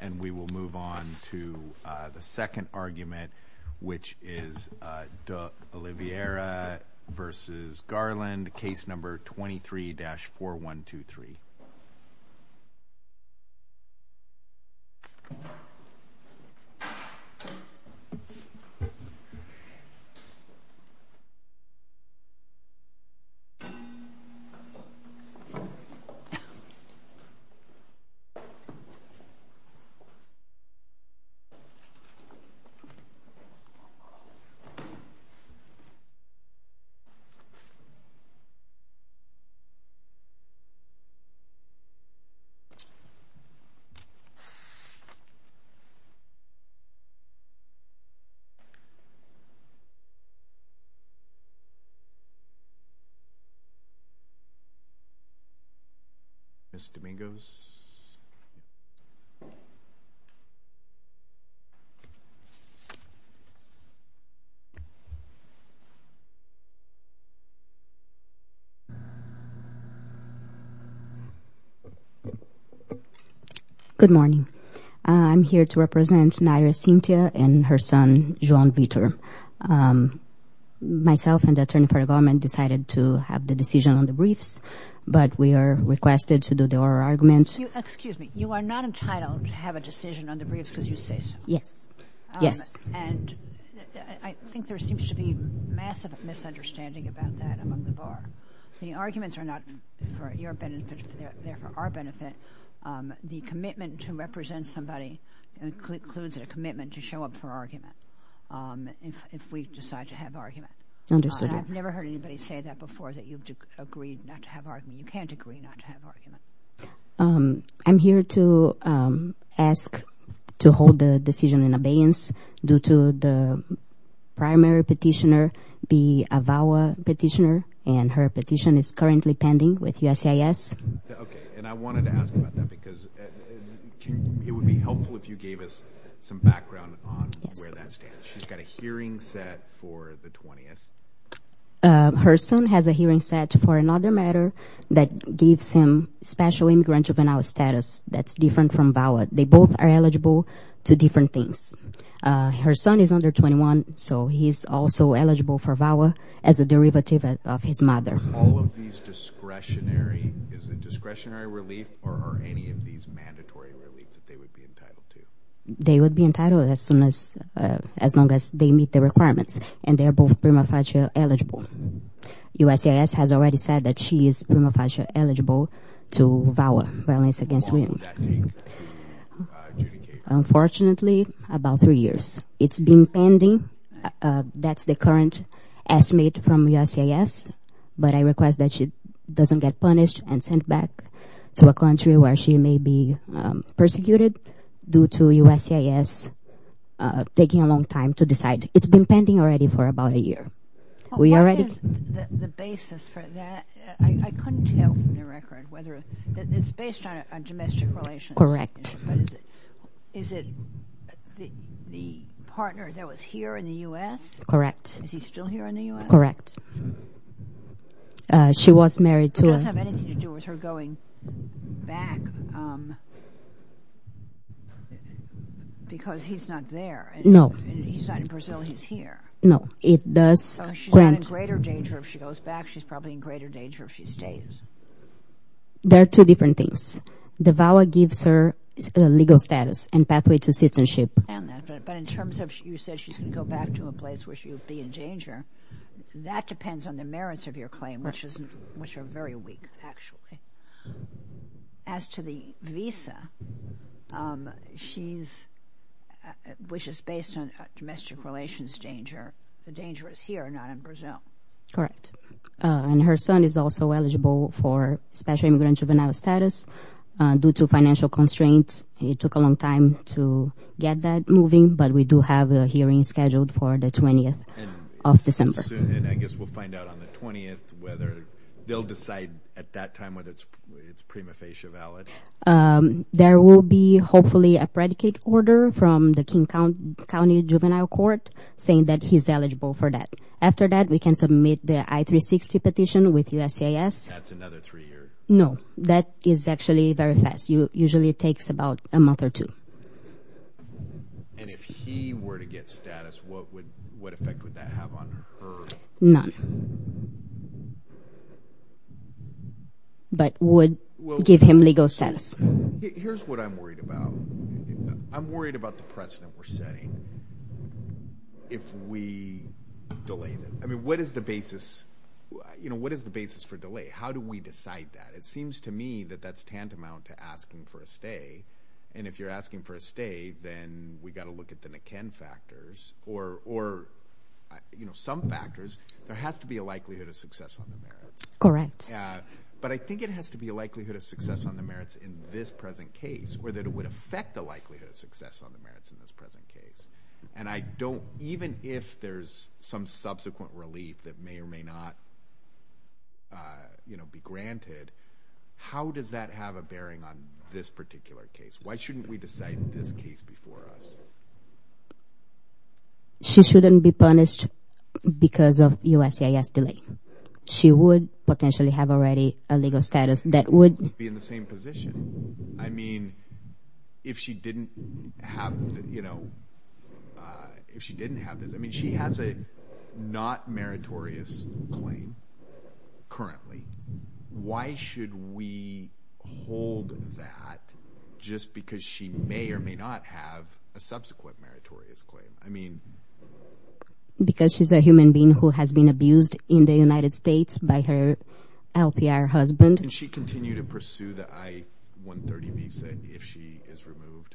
And we will move on to the second argument, which is de Oliveira v. Garland, case number 23-4123. Ms. Dominguez? Ms. Dominguez? Good morning. I'm here to represent Naira Cintia and her son, João Vitor. Myself and the attorney for the government decided to have the decision on the briefs, but we are requested to do the oral argument. Excuse me. You are not entitled to have a decision on the briefs because you say so. Yes. Yes. And I think there seems to be massive misunderstanding about that among the bar. The arguments are not for your benefit. They are for our benefit. The commitment to represent somebody includes a commitment to show up for argument if we decide to have argument. Understood. I've never heard anybody say that before, that you've agreed not to have argument. You can't agree not to have argument. I'm here to ask to hold the decision in abeyance due to the primary petitioner be a VAWA petitioner, and her petition is currently pending with USCIS. Okay. And I wanted to ask about that because it would be helpful if you gave us some background on where that stands. She's got a hearing set for the 20th. Her son has a hearing set for another matter that gives him special immigrant juvenile status that's different from VAWA. They both are eligible to different things. Her son is under 21, so he's also eligible for VAWA as a derivative of his mother. Are all of these discretionary? Is it discretionary relief, or are any of these mandatory relief that they would be entitled to? They would be entitled as long as they meet the requirements, and they're both prima facie eligible. USCIS has already said that she is prima facie eligible to VAWA, violence against women. Unfortunately, about three years. It's been pending. That's the current estimate from USCIS, but I request that she doesn't get punished and sent back to a country where she may be persecuted due to USCIS taking a long time to decide. It's been pending already for about a year. What is the basis for that? I couldn't tell from the record whether it's based on domestic relations. Correct. Is it the partner that was here in the U.S.? Correct. Is he still here in the U.S.? Correct. She was married to him. It doesn't have anything to do with her going back because he's not there. No. He's not in Brazil. He's here. No. So she's not in greater danger if she goes back. She's probably in greater danger if she stays. There are two different things. The VAWA gives her legal status and pathway to citizenship. But in terms of you said she's going to go back to a place where she would be in danger, that depends on the merits of your claim, which are very weak, actually. As to the visa, which is based on domestic relations danger, the danger is here, not in Brazil. Correct. And her son is also eligible for special immigrant juvenile status. Due to financial constraints, it took a long time to get that moving, but we do have a hearing scheduled for the 20th of December. And I guess we'll find out on the 20th whether they'll decide at that time whether it's prima facie valid. There will be hopefully a predicate order from the King County Juvenile Court saying that he's eligible for that. After that, we can submit the I-360 petition with USCIS. That's another three years. No. That is actually very fast. Usually it takes about a month or two. And if he were to get status, what effect would that have on her? None. But would give him legal status. Here's what I'm worried about. I'm worried about the precedent we're setting if we delay them. I mean, what is the basis for delay? How do we decide that? It seems to me that that's tantamount to asking for a stay. And if you're asking for a stay, then we've got to look at the Niken factors or some factors. There has to be a likelihood of success on the merits. Correct. But I think it has to be a likelihood of success on the merits in this present case or that it would affect the likelihood of success on the merits in this present case. And even if there's some subsequent relief that may or may not be granted, how does that have a bearing on this particular case? Why shouldn't we decide this case before us? She shouldn't be punished because of USCIS delay. She would potentially have already a legal status that would be in the same position. I mean, if she didn't have, you know, if she didn't have this, I mean, she has a not meritorious claim currently. Why should we hold that just because she may or may not have a subsequent meritorious claim? Because she's a human being who has been abused in the United States by her LPR husband. And she continued to pursue the I-130 visa if she is removed.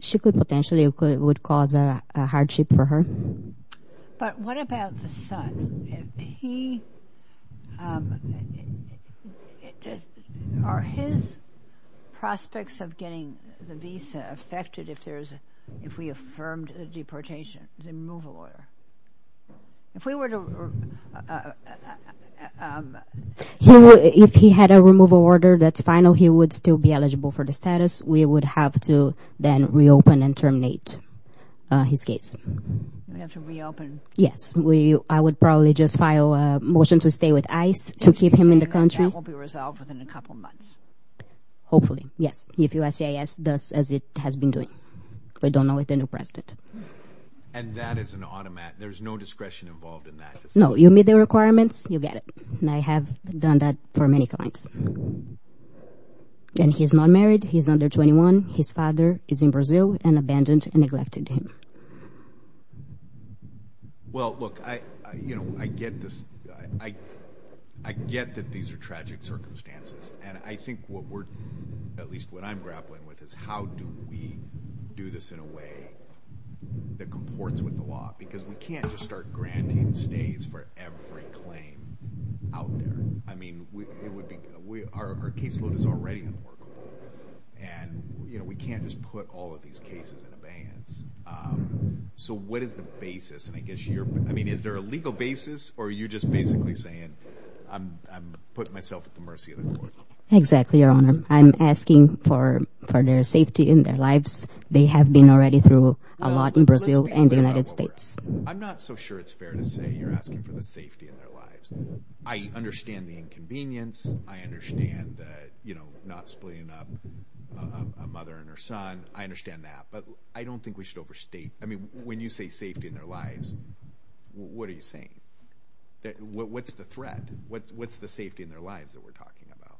She could potentially would cause a hardship for her. But what about the son? Are his prospects of getting the visa affected if we affirmed the deportation, the removal order? If we were to... If he had a removal order that's final, he would still be eligible for the status. We would have to then reopen and terminate his case. We have to reopen. Yes. I would probably just file a motion to stay with ICE to keep him in the country. That will be resolved within a couple of months. Hopefully, yes. If USCIS does as it has been doing. We don't know with the new president. And that is an automatic. There's no discretion involved in that. No, you meet the requirements, you get it. And I have done that for many clients. And he's not married. He's under 21. His father is in Brazil and abandoned and neglected him. Well, look, I get this. I get that these are tragic circumstances. And I think what we're... At least what I'm grappling with is how do we do this in a way that comports with the law? Because we can't just start granting stays for every claim out there. I mean, it would be... Our caseload is already unworkable. And we can't just put all of these cases in abeyance. So what is the basis? And I guess you're... I mean, is there a legal basis? Or are you just basically saying I'm putting myself at the mercy of the court? Exactly, Your Honor. I'm asking for their safety in their lives. They have been already through a lot in Brazil and the United States. I'm not so sure it's fair to say you're asking for the safety of their lives. I understand the inconvenience. I understand that not splitting up a mother and her son. I understand that. But I don't think we should overstate... I mean, when you say safety in their lives, what are you saying? What's the threat? What's the safety in their lives that we're talking about?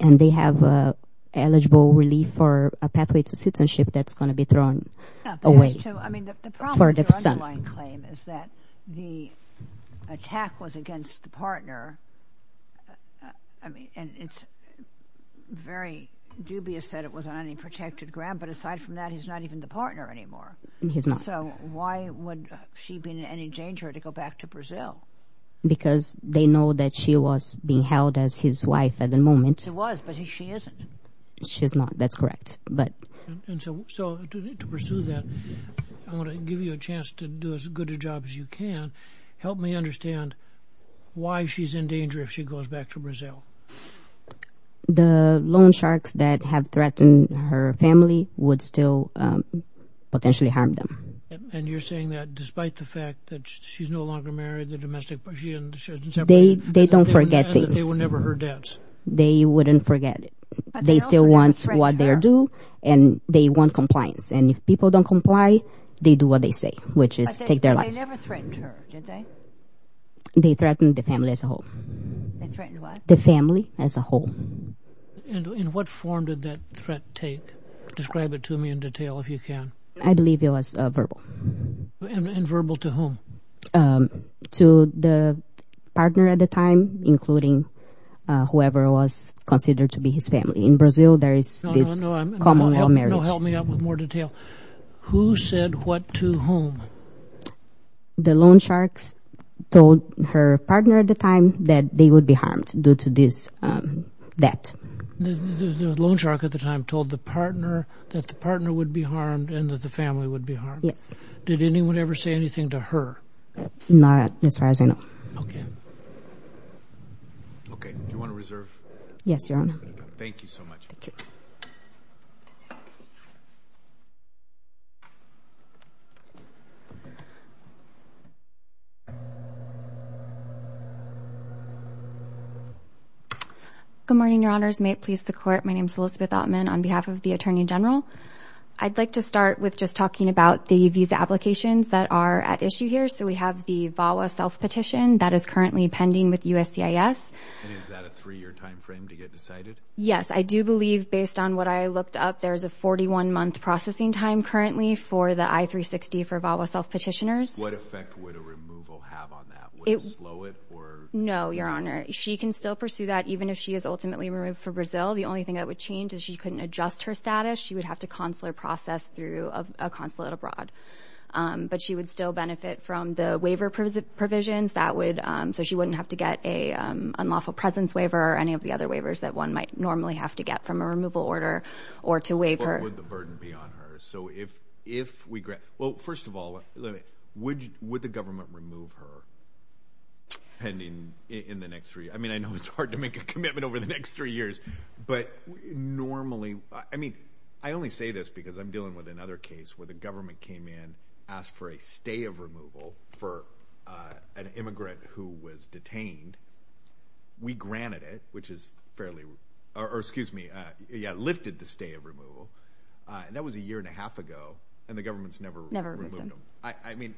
And they have eligible relief for a pathway to citizenship that's going to be thrown away. I mean, the problem with your underlying claim is that the attack was against the partner. And it's very dubious that it was on any protected ground. But aside from that, he's not even the partner anymore. He's not. So why would she be in any danger to go back to Brazil? Because they know that she was being held as his wife at the moment. She was, but she isn't. She's not. That's correct. So to pursue that, I want to give you a chance to do as good a job as you can. Help me understand why she's in danger if she goes back to Brazil. The loan sharks that have threatened her family would still potentially harm them. And you're saying that despite the fact that she's no longer married, the domestic... They don't forget things. ...that they were never her dads. They wouldn't forget it. They still want what they do, and they want compliance. And if people don't comply, they do what they say, which is take their lives. But they never threatened her, did they? They threatened the family as a whole. They threatened what? The family as a whole. And in what form did that threat take? Describe it to me in detail if you can. I believe it was verbal. And verbal to whom? To the partner at the time, including whoever was considered to be his family. In Brazil, there is this common law marriage. No, help me out with more detail. Who said what to whom? The loan sharks told her partner at the time that they would be harmed due to this debt. The loan shark at the time told the partner that the partner would be harmed and that the family would be harmed. Yes. Did anyone ever say anything to her? Not as far as I know. Okay. Okay. Do you want to reserve? Yes, Your Honor. Thank you so much. Thank you. Good morning, Your Honors. May it please the Court, my name is Elizabeth Oppmann on behalf of the Attorney General. I'd like to start with just talking about the visa applications that are at issue here. So we have the VAWA self-petition that is currently pending with USCIS. And is that a three-year time frame to get decided? Yes. I do believe, based on what I looked up, there is a 41-month processing time currently for the I-360 for VAWA self-petitioners. What effect would a removal have on that? Would it slow it? No, Your Honor. She can still pursue that even if she is ultimately removed from Brazil. The only thing that would change is she couldn't adjust her status. She would have to consular process through a consulate abroad. But she would still benefit from the waiver provisions. So she wouldn't have to get an unlawful presence waiver or any of the other waivers that one might normally have to get from a removal order or to waive her. But would the burden be on her? So if we grant – well, first of all, would the government remove her in the next three – I mean, I know it's hard to make a commitment over the next three years. But normally – I mean, I only say this because I'm dealing with another case where the government came in, asked for a stay of removal for an immigrant who was detained. We granted it, which is fairly – or excuse me, lifted the stay of removal. That was a year and a half ago, and the government's never removed them. I mean,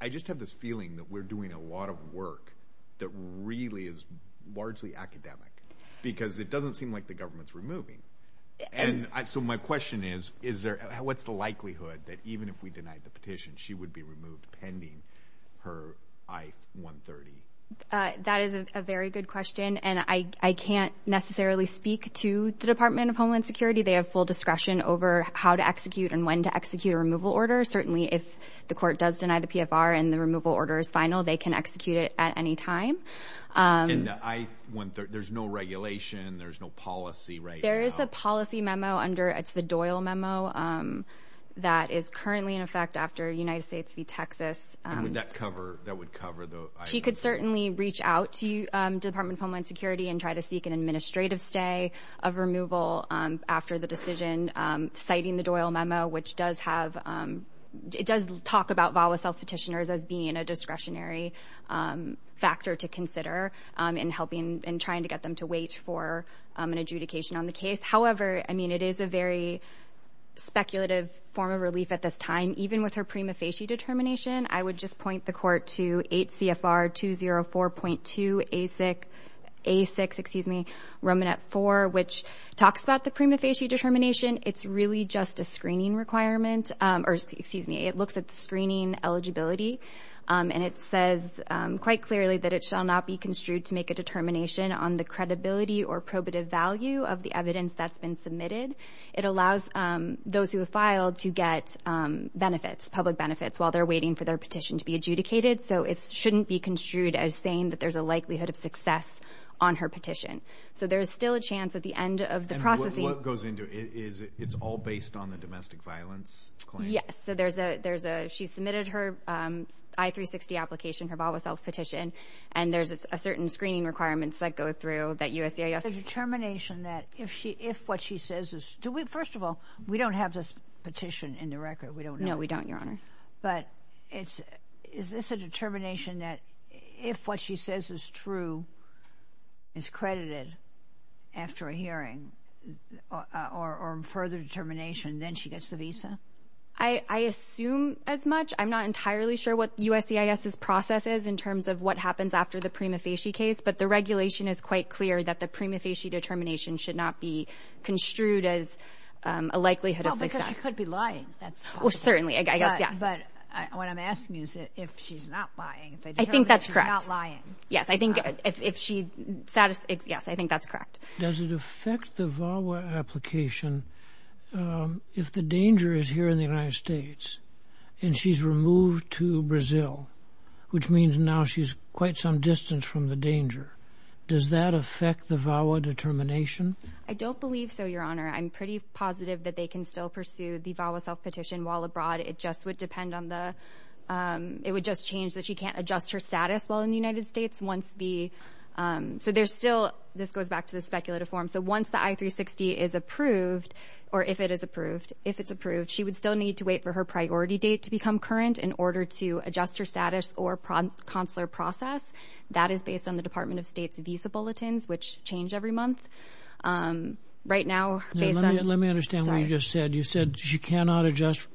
I just have this feeling that we're doing a lot of work that really is largely academic because it doesn't seem like the government's removing. So my question is, what's the likelihood that even if we denied the petition, she would be removed pending her I-130? That is a very good question, and I can't necessarily speak to the Department of Homeland Security. They have full discretion over how to execute and when to execute a removal order. Certainly, if the court does deny the PFR and the removal order is final, they can execute it at any time. And the I-130 – there's no regulation, there's no policy, right? There is a policy memo under – it's the Doyle memo that is currently in effect after United States v. Texas. And would that cover – that would cover the I-130? She could certainly reach out to the Department of Homeland Security and try to seek an administrative stay of removal after the decision, citing the Doyle memo, which does have – it does talk about VAWA self-petitioners as being a discretionary factor to consider in helping – in trying to get them to wait for an adjudication on the case. However, I mean, it is a very speculative form of relief at this time. Even with her prima facie determination, I would just point the court to 8 CFR 204.2 A6 – A6, excuse me – Romanet 4, which talks about the prima facie determination. It's really just a screening requirement – or, excuse me, it looks at screening eligibility, and it says quite clearly that it shall not be construed to make a determination on the credibility or probative value of the evidence that's been submitted. It allows those who have filed to get benefits, public benefits, while they're waiting for their petition to be adjudicated. So it shouldn't be construed as saying that there's a likelihood of success on her petition. So there is still a chance at the end of the processing. And what goes into it is it's all based on the domestic violence claim? Yes. So there's a – she submitted her I-360 application, her BalbaSelf petition, and there's a certain screening requirements that go through that USCIS – The determination that if what she says is – do we – first of all, we don't have this petition in the record. We don't know. No, we don't, Your Honor. But is this a determination that if what she says is true is credited after a hearing or further determination, then she gets the visa? I assume as much. I'm not entirely sure what USCIS's process is in terms of what happens after the prima facie case, but the regulation is quite clear that the prima facie determination should not be construed as a likelihood of success. Well, because she could be lying. That's possible. Well, certainly. I guess, yes. But what I'm asking is if she's not lying. I think that's correct. She's not lying. Yes, I think if she – yes, I think that's correct. Does it affect the VAWA application if the danger is here in the United States and she's removed to Brazil, which means now she's quite some distance from the danger? Does that affect the VAWA determination? I don't believe so, Your Honor. I'm pretty positive that they can still pursue the VAWA self-petition while abroad. It just would depend on the – it would just change that she can't adjust her status while in the United States once the – so there's still – this goes back to the speculative form. So once the I-360 is approved, or if it is approved, if it's approved, she would still need to wait for her priority date to become current in order to adjust her status or consular process. That is based on the Department of State's visa bulletins, which change every month. Right now, based on – Let me understand what you just said. You said she cannot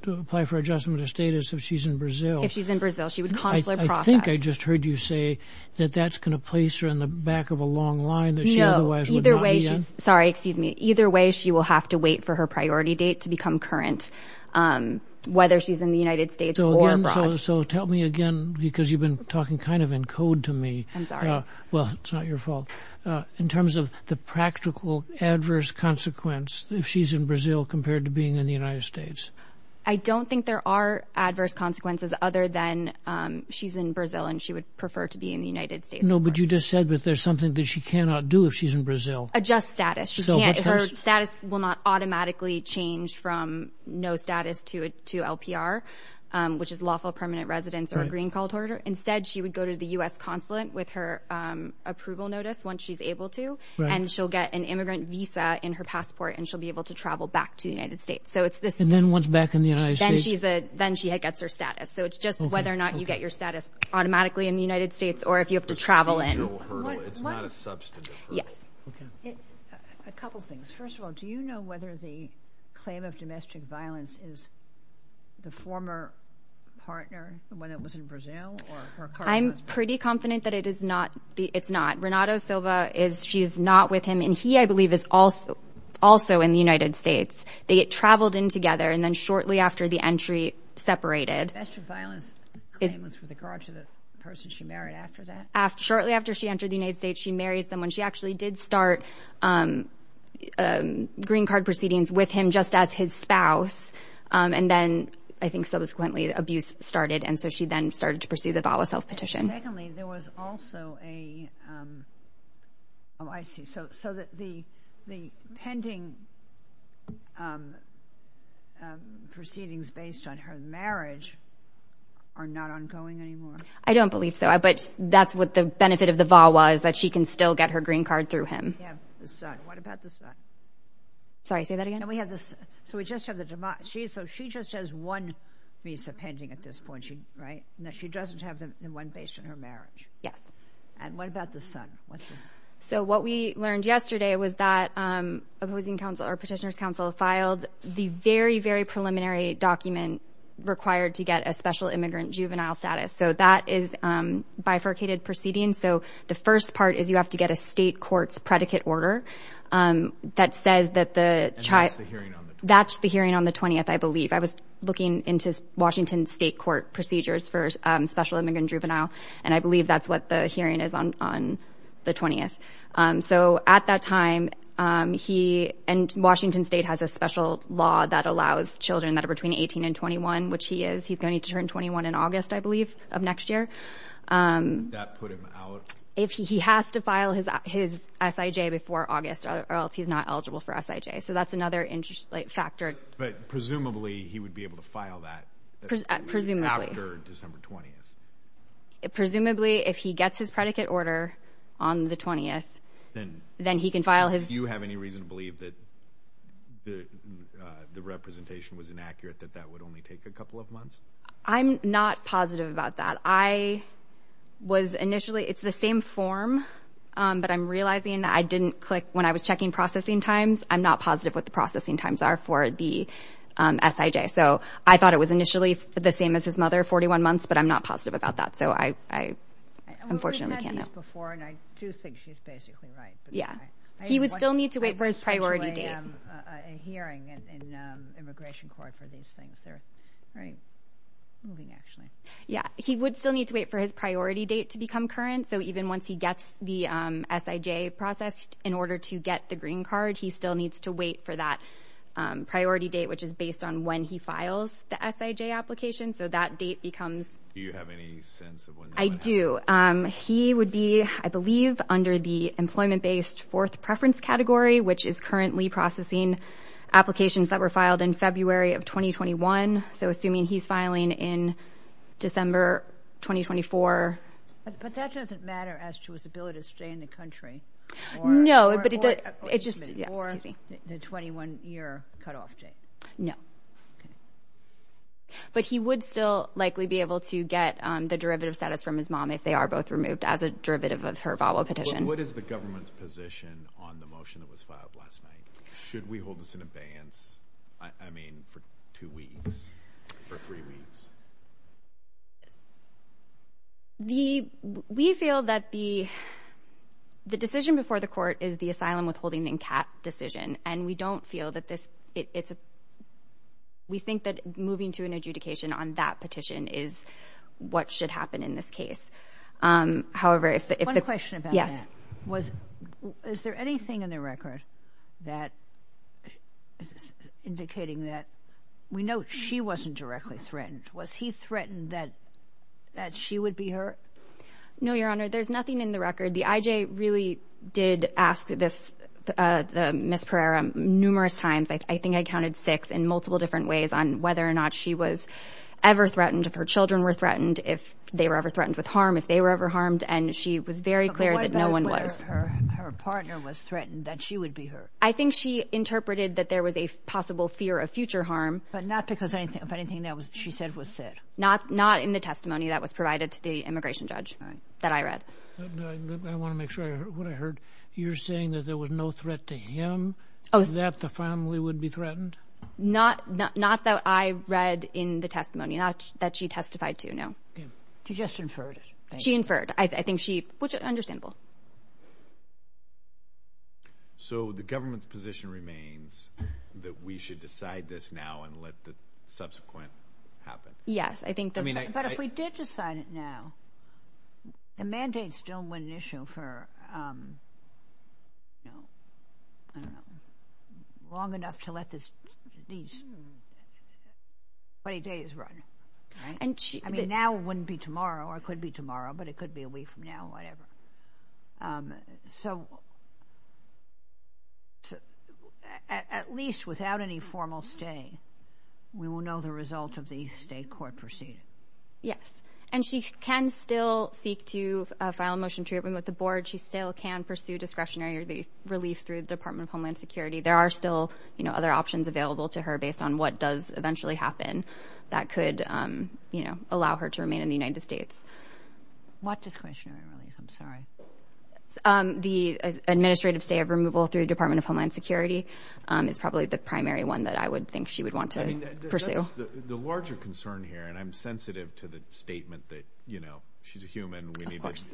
apply for adjustment of status if she's in Brazil. If she's in Brazil, she would consular process. I think I just heard you say that that's going to place her in the back of a long line that she otherwise would not be in. Sorry, excuse me. Either way, she will have to wait for her priority date to become current, whether she's in the United States or abroad. So tell me again, because you've been talking kind of in code to me. I'm sorry. Well, it's not your fault. In terms of the practical adverse consequence if she's in Brazil compared to being in the United States. I don't think there are adverse consequences other than she's in Brazil and she would prefer to be in the United States. No, but you just said that there's something that she cannot do if she's in Brazil. Adjust status. Her status will not automatically change from no status to LPR, which is lawful permanent residence or a green call to order. Instead, she would go to the U.S. consulate with her approval notice once she's able to, and she'll get an immigrant visa in her passport, and she'll be able to travel back to the United States. And then once back in the United States? Then she gets her status. So it's just whether or not you get your status automatically in the United States or if you have to travel in. It's not a substantive hurdle. Yes. A couple things. First of all, do you know whether the claim of domestic violence is the former partner, the one that was in Brazil? I'm pretty confident that it's not. Renato Silva, she's not with him, and he, I believe, is also in the United States. They get traveled in together, and then shortly after the entry, separated. The domestic violence claim was for the garage of the person she married after that? Shortly after she entered the United States, she married someone. She actually did start green card proceedings with him just as his spouse, and then I think subsequently abuse started, and so she then started to pursue the VAWA self-petition. And secondly, there was also a, oh, I see. So the pending proceedings based on her marriage are not ongoing anymore? I don't believe so, but that's what the benefit of the VAWA is that she can still get her green card through him. What about the son? Sorry, say that again? So she just has one visa pending at this point, right? No, she doesn't have the one based on her marriage. Yes. And what about the son? So what we learned yesterday was that opposing counsel or petitioner's counsel filed the very, very preliminary document required to get a special immigrant juvenile status. So that is bifurcated proceedings. So the first part is you have to get a state court's predicate order that says that the child. And that's the hearing on the 20th? That's the hearing on the 20th, I believe. I was looking into Washington State court procedures for special immigrant juvenile, and I believe that's what the hearing is on the 20th. So at that time, he and Washington State has a special law that allows children that are between 18 and 21, which he is. He's going to turn 21 in August, I believe, of next year. That put him out? He has to file his S.I.J. before August or else he's not eligible for S.I.J. So that's another factor. But presumably, he would be able to file that after December 20th? Presumably. Presumably, if he gets his predicate order on the 20th, then he can file his... Do you have any reason to believe that the representation was inaccurate, that that would only take a couple of months? I'm not positive about that. I was initially... it's the same form, but I'm realizing that I didn't click... So I thought it was initially the same as his mother, 41 months, but I'm not positive about that. So I unfortunately can't know. We've had these before, and I do think she's basically right. He would still need to wait for his priority date... a hearing in immigration court for these things. They're very moving, actually. Yeah. He would still need to wait for his priority date to become current. So even once he gets the S.I.J. processed, in order to get the green card, he still needs to wait for that priority date, which is based on when he files the S.I.J. application. So that date becomes... Do you have any sense of when that might happen? I do. He would be, I believe, under the employment-based fourth preference category, which is currently processing applications that were filed in February of 2021. So assuming he's filing in December 2024. But that doesn't matter as to his ability to stay in the country. No. Or the 21-year cutoff date. Okay. But he would still likely be able to get the derivative status from his mom if they are both removed as a derivative of her Bible petition. What is the government's position on the motion that was filed last night? Should we hold this in abeyance, I mean, for two weeks or three weeks? The... We feel that the decision before the court is the asylum withholding and cap decision. And we don't feel that this... It's... We think that moving to an adjudication on that petition is what should happen in this case. However, if... One question about that. Yes. Was... Is there anything in the record that... Indicating that... We know she wasn't directly threatened. Was he threatened that... That she would be hurt? No, Your Honor. There's nothing in the record. The IJ really did ask this... Ms. Pereira numerous times. I think I counted six in multiple different ways on whether or not she was ever threatened. If her children were threatened. If they were ever threatened with harm. If they were ever harmed. And she was very clear that no one was. What about whether her partner was threatened that she would be hurt? I think she interpreted that there was a possible fear of future harm. But not because of anything that she said was said. Not in the testimony that was provided to the immigration judge that I read. I want to make sure I heard what I heard. You're saying that there was no threat to him that the family would be threatened? Not that I read in the testimony. Not that she testified to, no. She just inferred it. She inferred. I think she... Which is understandable. So the government's position remains that we should decide this now and let the subsequent happen? Yes. But if we did decide it now... The mandates don't win an issue for long enough to let these 20 days run. Now wouldn't be tomorrow or could be tomorrow. But it could be a week from now or whatever. So at least without any formal stay, we will know the result of the state court proceeding. Yes. And she can still seek to file a motion to reopen with the board. She still can pursue discretionary relief through the Department of Homeland Security. There are still other options available to her based on what does eventually happen that could allow her to remain in the United States. What discretionary relief? I'm sorry. The administrative stay of removal through the Department of Homeland Security is probably the primary one that I would think she would want to pursue. The larger concern here, and I'm sensitive to the statement that, you know, she's a human. Of course.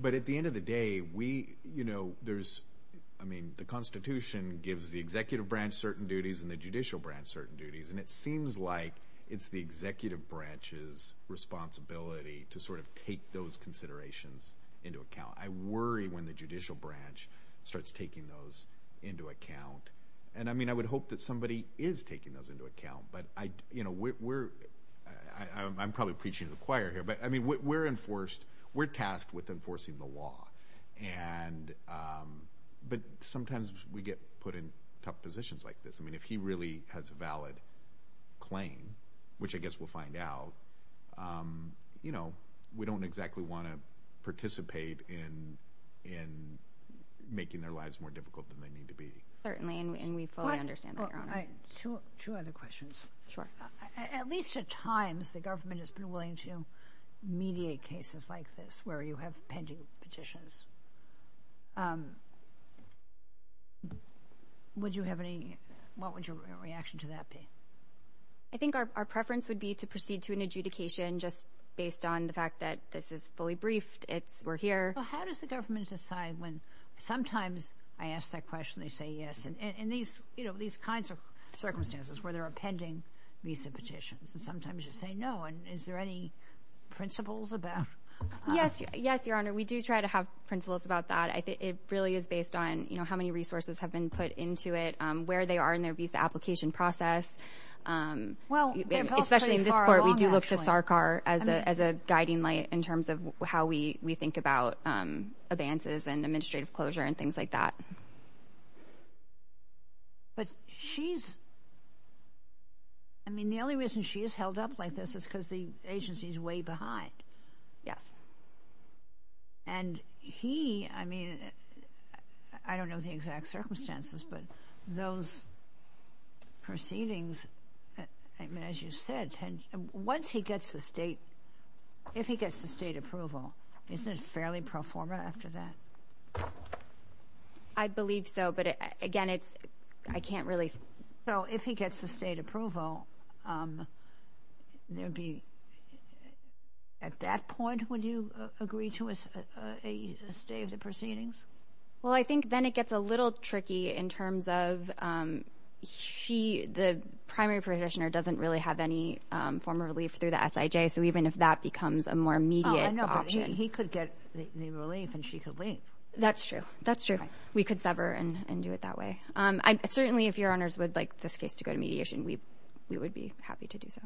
But at the end of the day, we, you know, there's... I mean, the Constitution gives the executive branch certain duties and the judicial branch certain duties. And it seems like it's the executive branch's responsibility to sort of take those considerations into account. I worry when the judicial branch starts taking those into account. And, I mean, I would hope that somebody is taking those into account. But, you know, we're... I'm probably preaching to the choir here. But, I mean, we're enforced... we're tasked with enforcing the law. And... but sometimes we get put in tough positions like this. I mean, if he really has a valid claim, which I guess we'll find out, you know, we don't exactly want to participate in making their lives more difficult than they need to be. Certainly, and we fully understand that, Your Honor. Two other questions. Sure. At least at times, the government has been willing to mediate cases like this where you have pending petitions. Would you have any... what would your reaction to that be? I think our preference would be to proceed to an adjudication just based on the fact that this is fully briefed. It's... we're here. Well, how does the government decide when... sometimes I ask that question and they say yes. And, these, you know, these kinds of circumstances where there are pending visa petitions. And, sometimes you say no. And, is there any principles about... Yes. Yes, Your Honor. We do try to have principles about that. I think it really is based on, you know, how many resources have been put into it, where they are in their visa application process. Well... But, she's... I mean, the only reason she is held up like this is because the agency is way behind. Yes. And, he... I mean, I don't know the exact circumstances, but those proceedings... I mean, as you said... once he gets the state... if he gets the state approval. Isn't it fairly profitable? I believe so. But, again, it's... I can't really... So, if he gets the state approval, there would be... at that point, would you agree to a stay of the proceedings? Well, I think then it gets a little tricky in terms of... she... the primary petitioner doesn't really have any form of relief through the SIJ. So, even if that becomes a more immediate option. I know, but he could get the relief and she could leave. That's true. That's true. We could sever and do it that way. Certainly, if your honors would like this case to go to mediation, we would be happy to do so.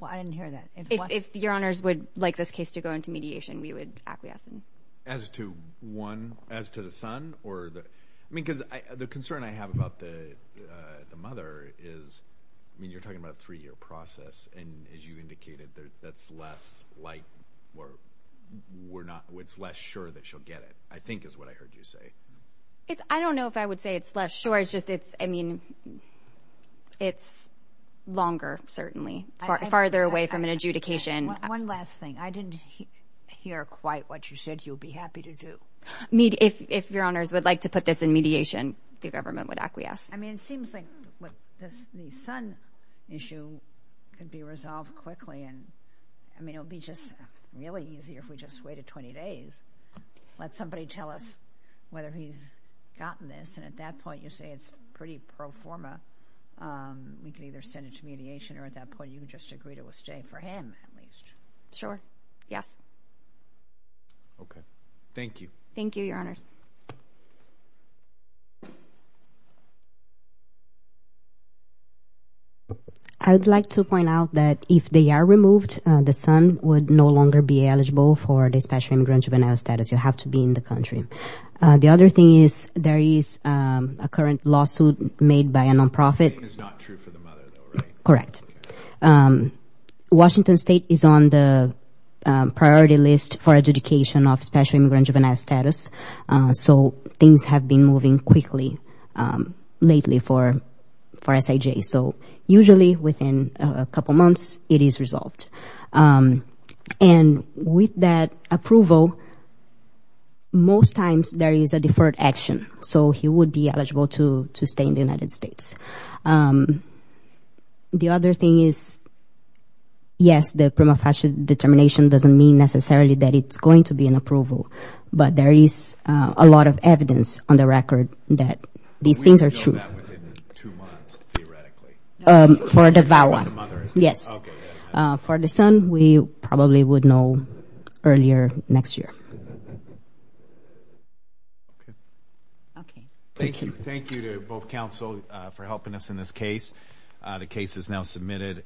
Well, I didn't hear that. If your honors would like this case to go into mediation, we would acquiesce. As to one... as to the son or the... I mean, because the concern I have about the mother is... we're not... it's less sure that she'll get it, I think is what I heard you say. I don't know if I would say it's less sure. It's just... it's... I mean... it's longer, certainly. Farther away from an adjudication. One last thing. I didn't hear quite what you said you would be happy to do. If your honors would like to put this in mediation, the government would acquiesce. I mean, it seems like this new son issue could be resolved quickly. I mean, it would be just really easy if we just waited 20 days. Let somebody tell us whether he's gotten this, and at that point you say it's pretty pro forma. You could either send it to mediation, or at that point you could just agree to a stay for him, at least. Sure. Yes. Okay. Thank you. Thank you, your honors. I would like to point out that if they are removed, the son would no longer be eligible for the Special Immigrant Juvenile Status. You have to be in the country. The other thing is there is a current lawsuit made by a nonprofit. That is not true for the mother, though, right? Correct. Washington State is on the priority list for adjudication of Special Immigrant Juvenile Status, so things have been moving quickly lately for SIJ. So usually within a couple months, it is resolved. And with that approval, most times there is a deferred action, so he would be eligible to stay in the United States. The other thing is, yes, the prima facie determination doesn't mean necessarily that it's going to be an approval, but there is a lot of evidence on the record that these things are true. Will we know that within two months, theoretically? For the VAWA. For the mother? Yes. Okay. For the son, we probably would know earlier next year. Okay. Okay. Thank you. Thank you to both counsel for helping us in this case. The case is now submitted.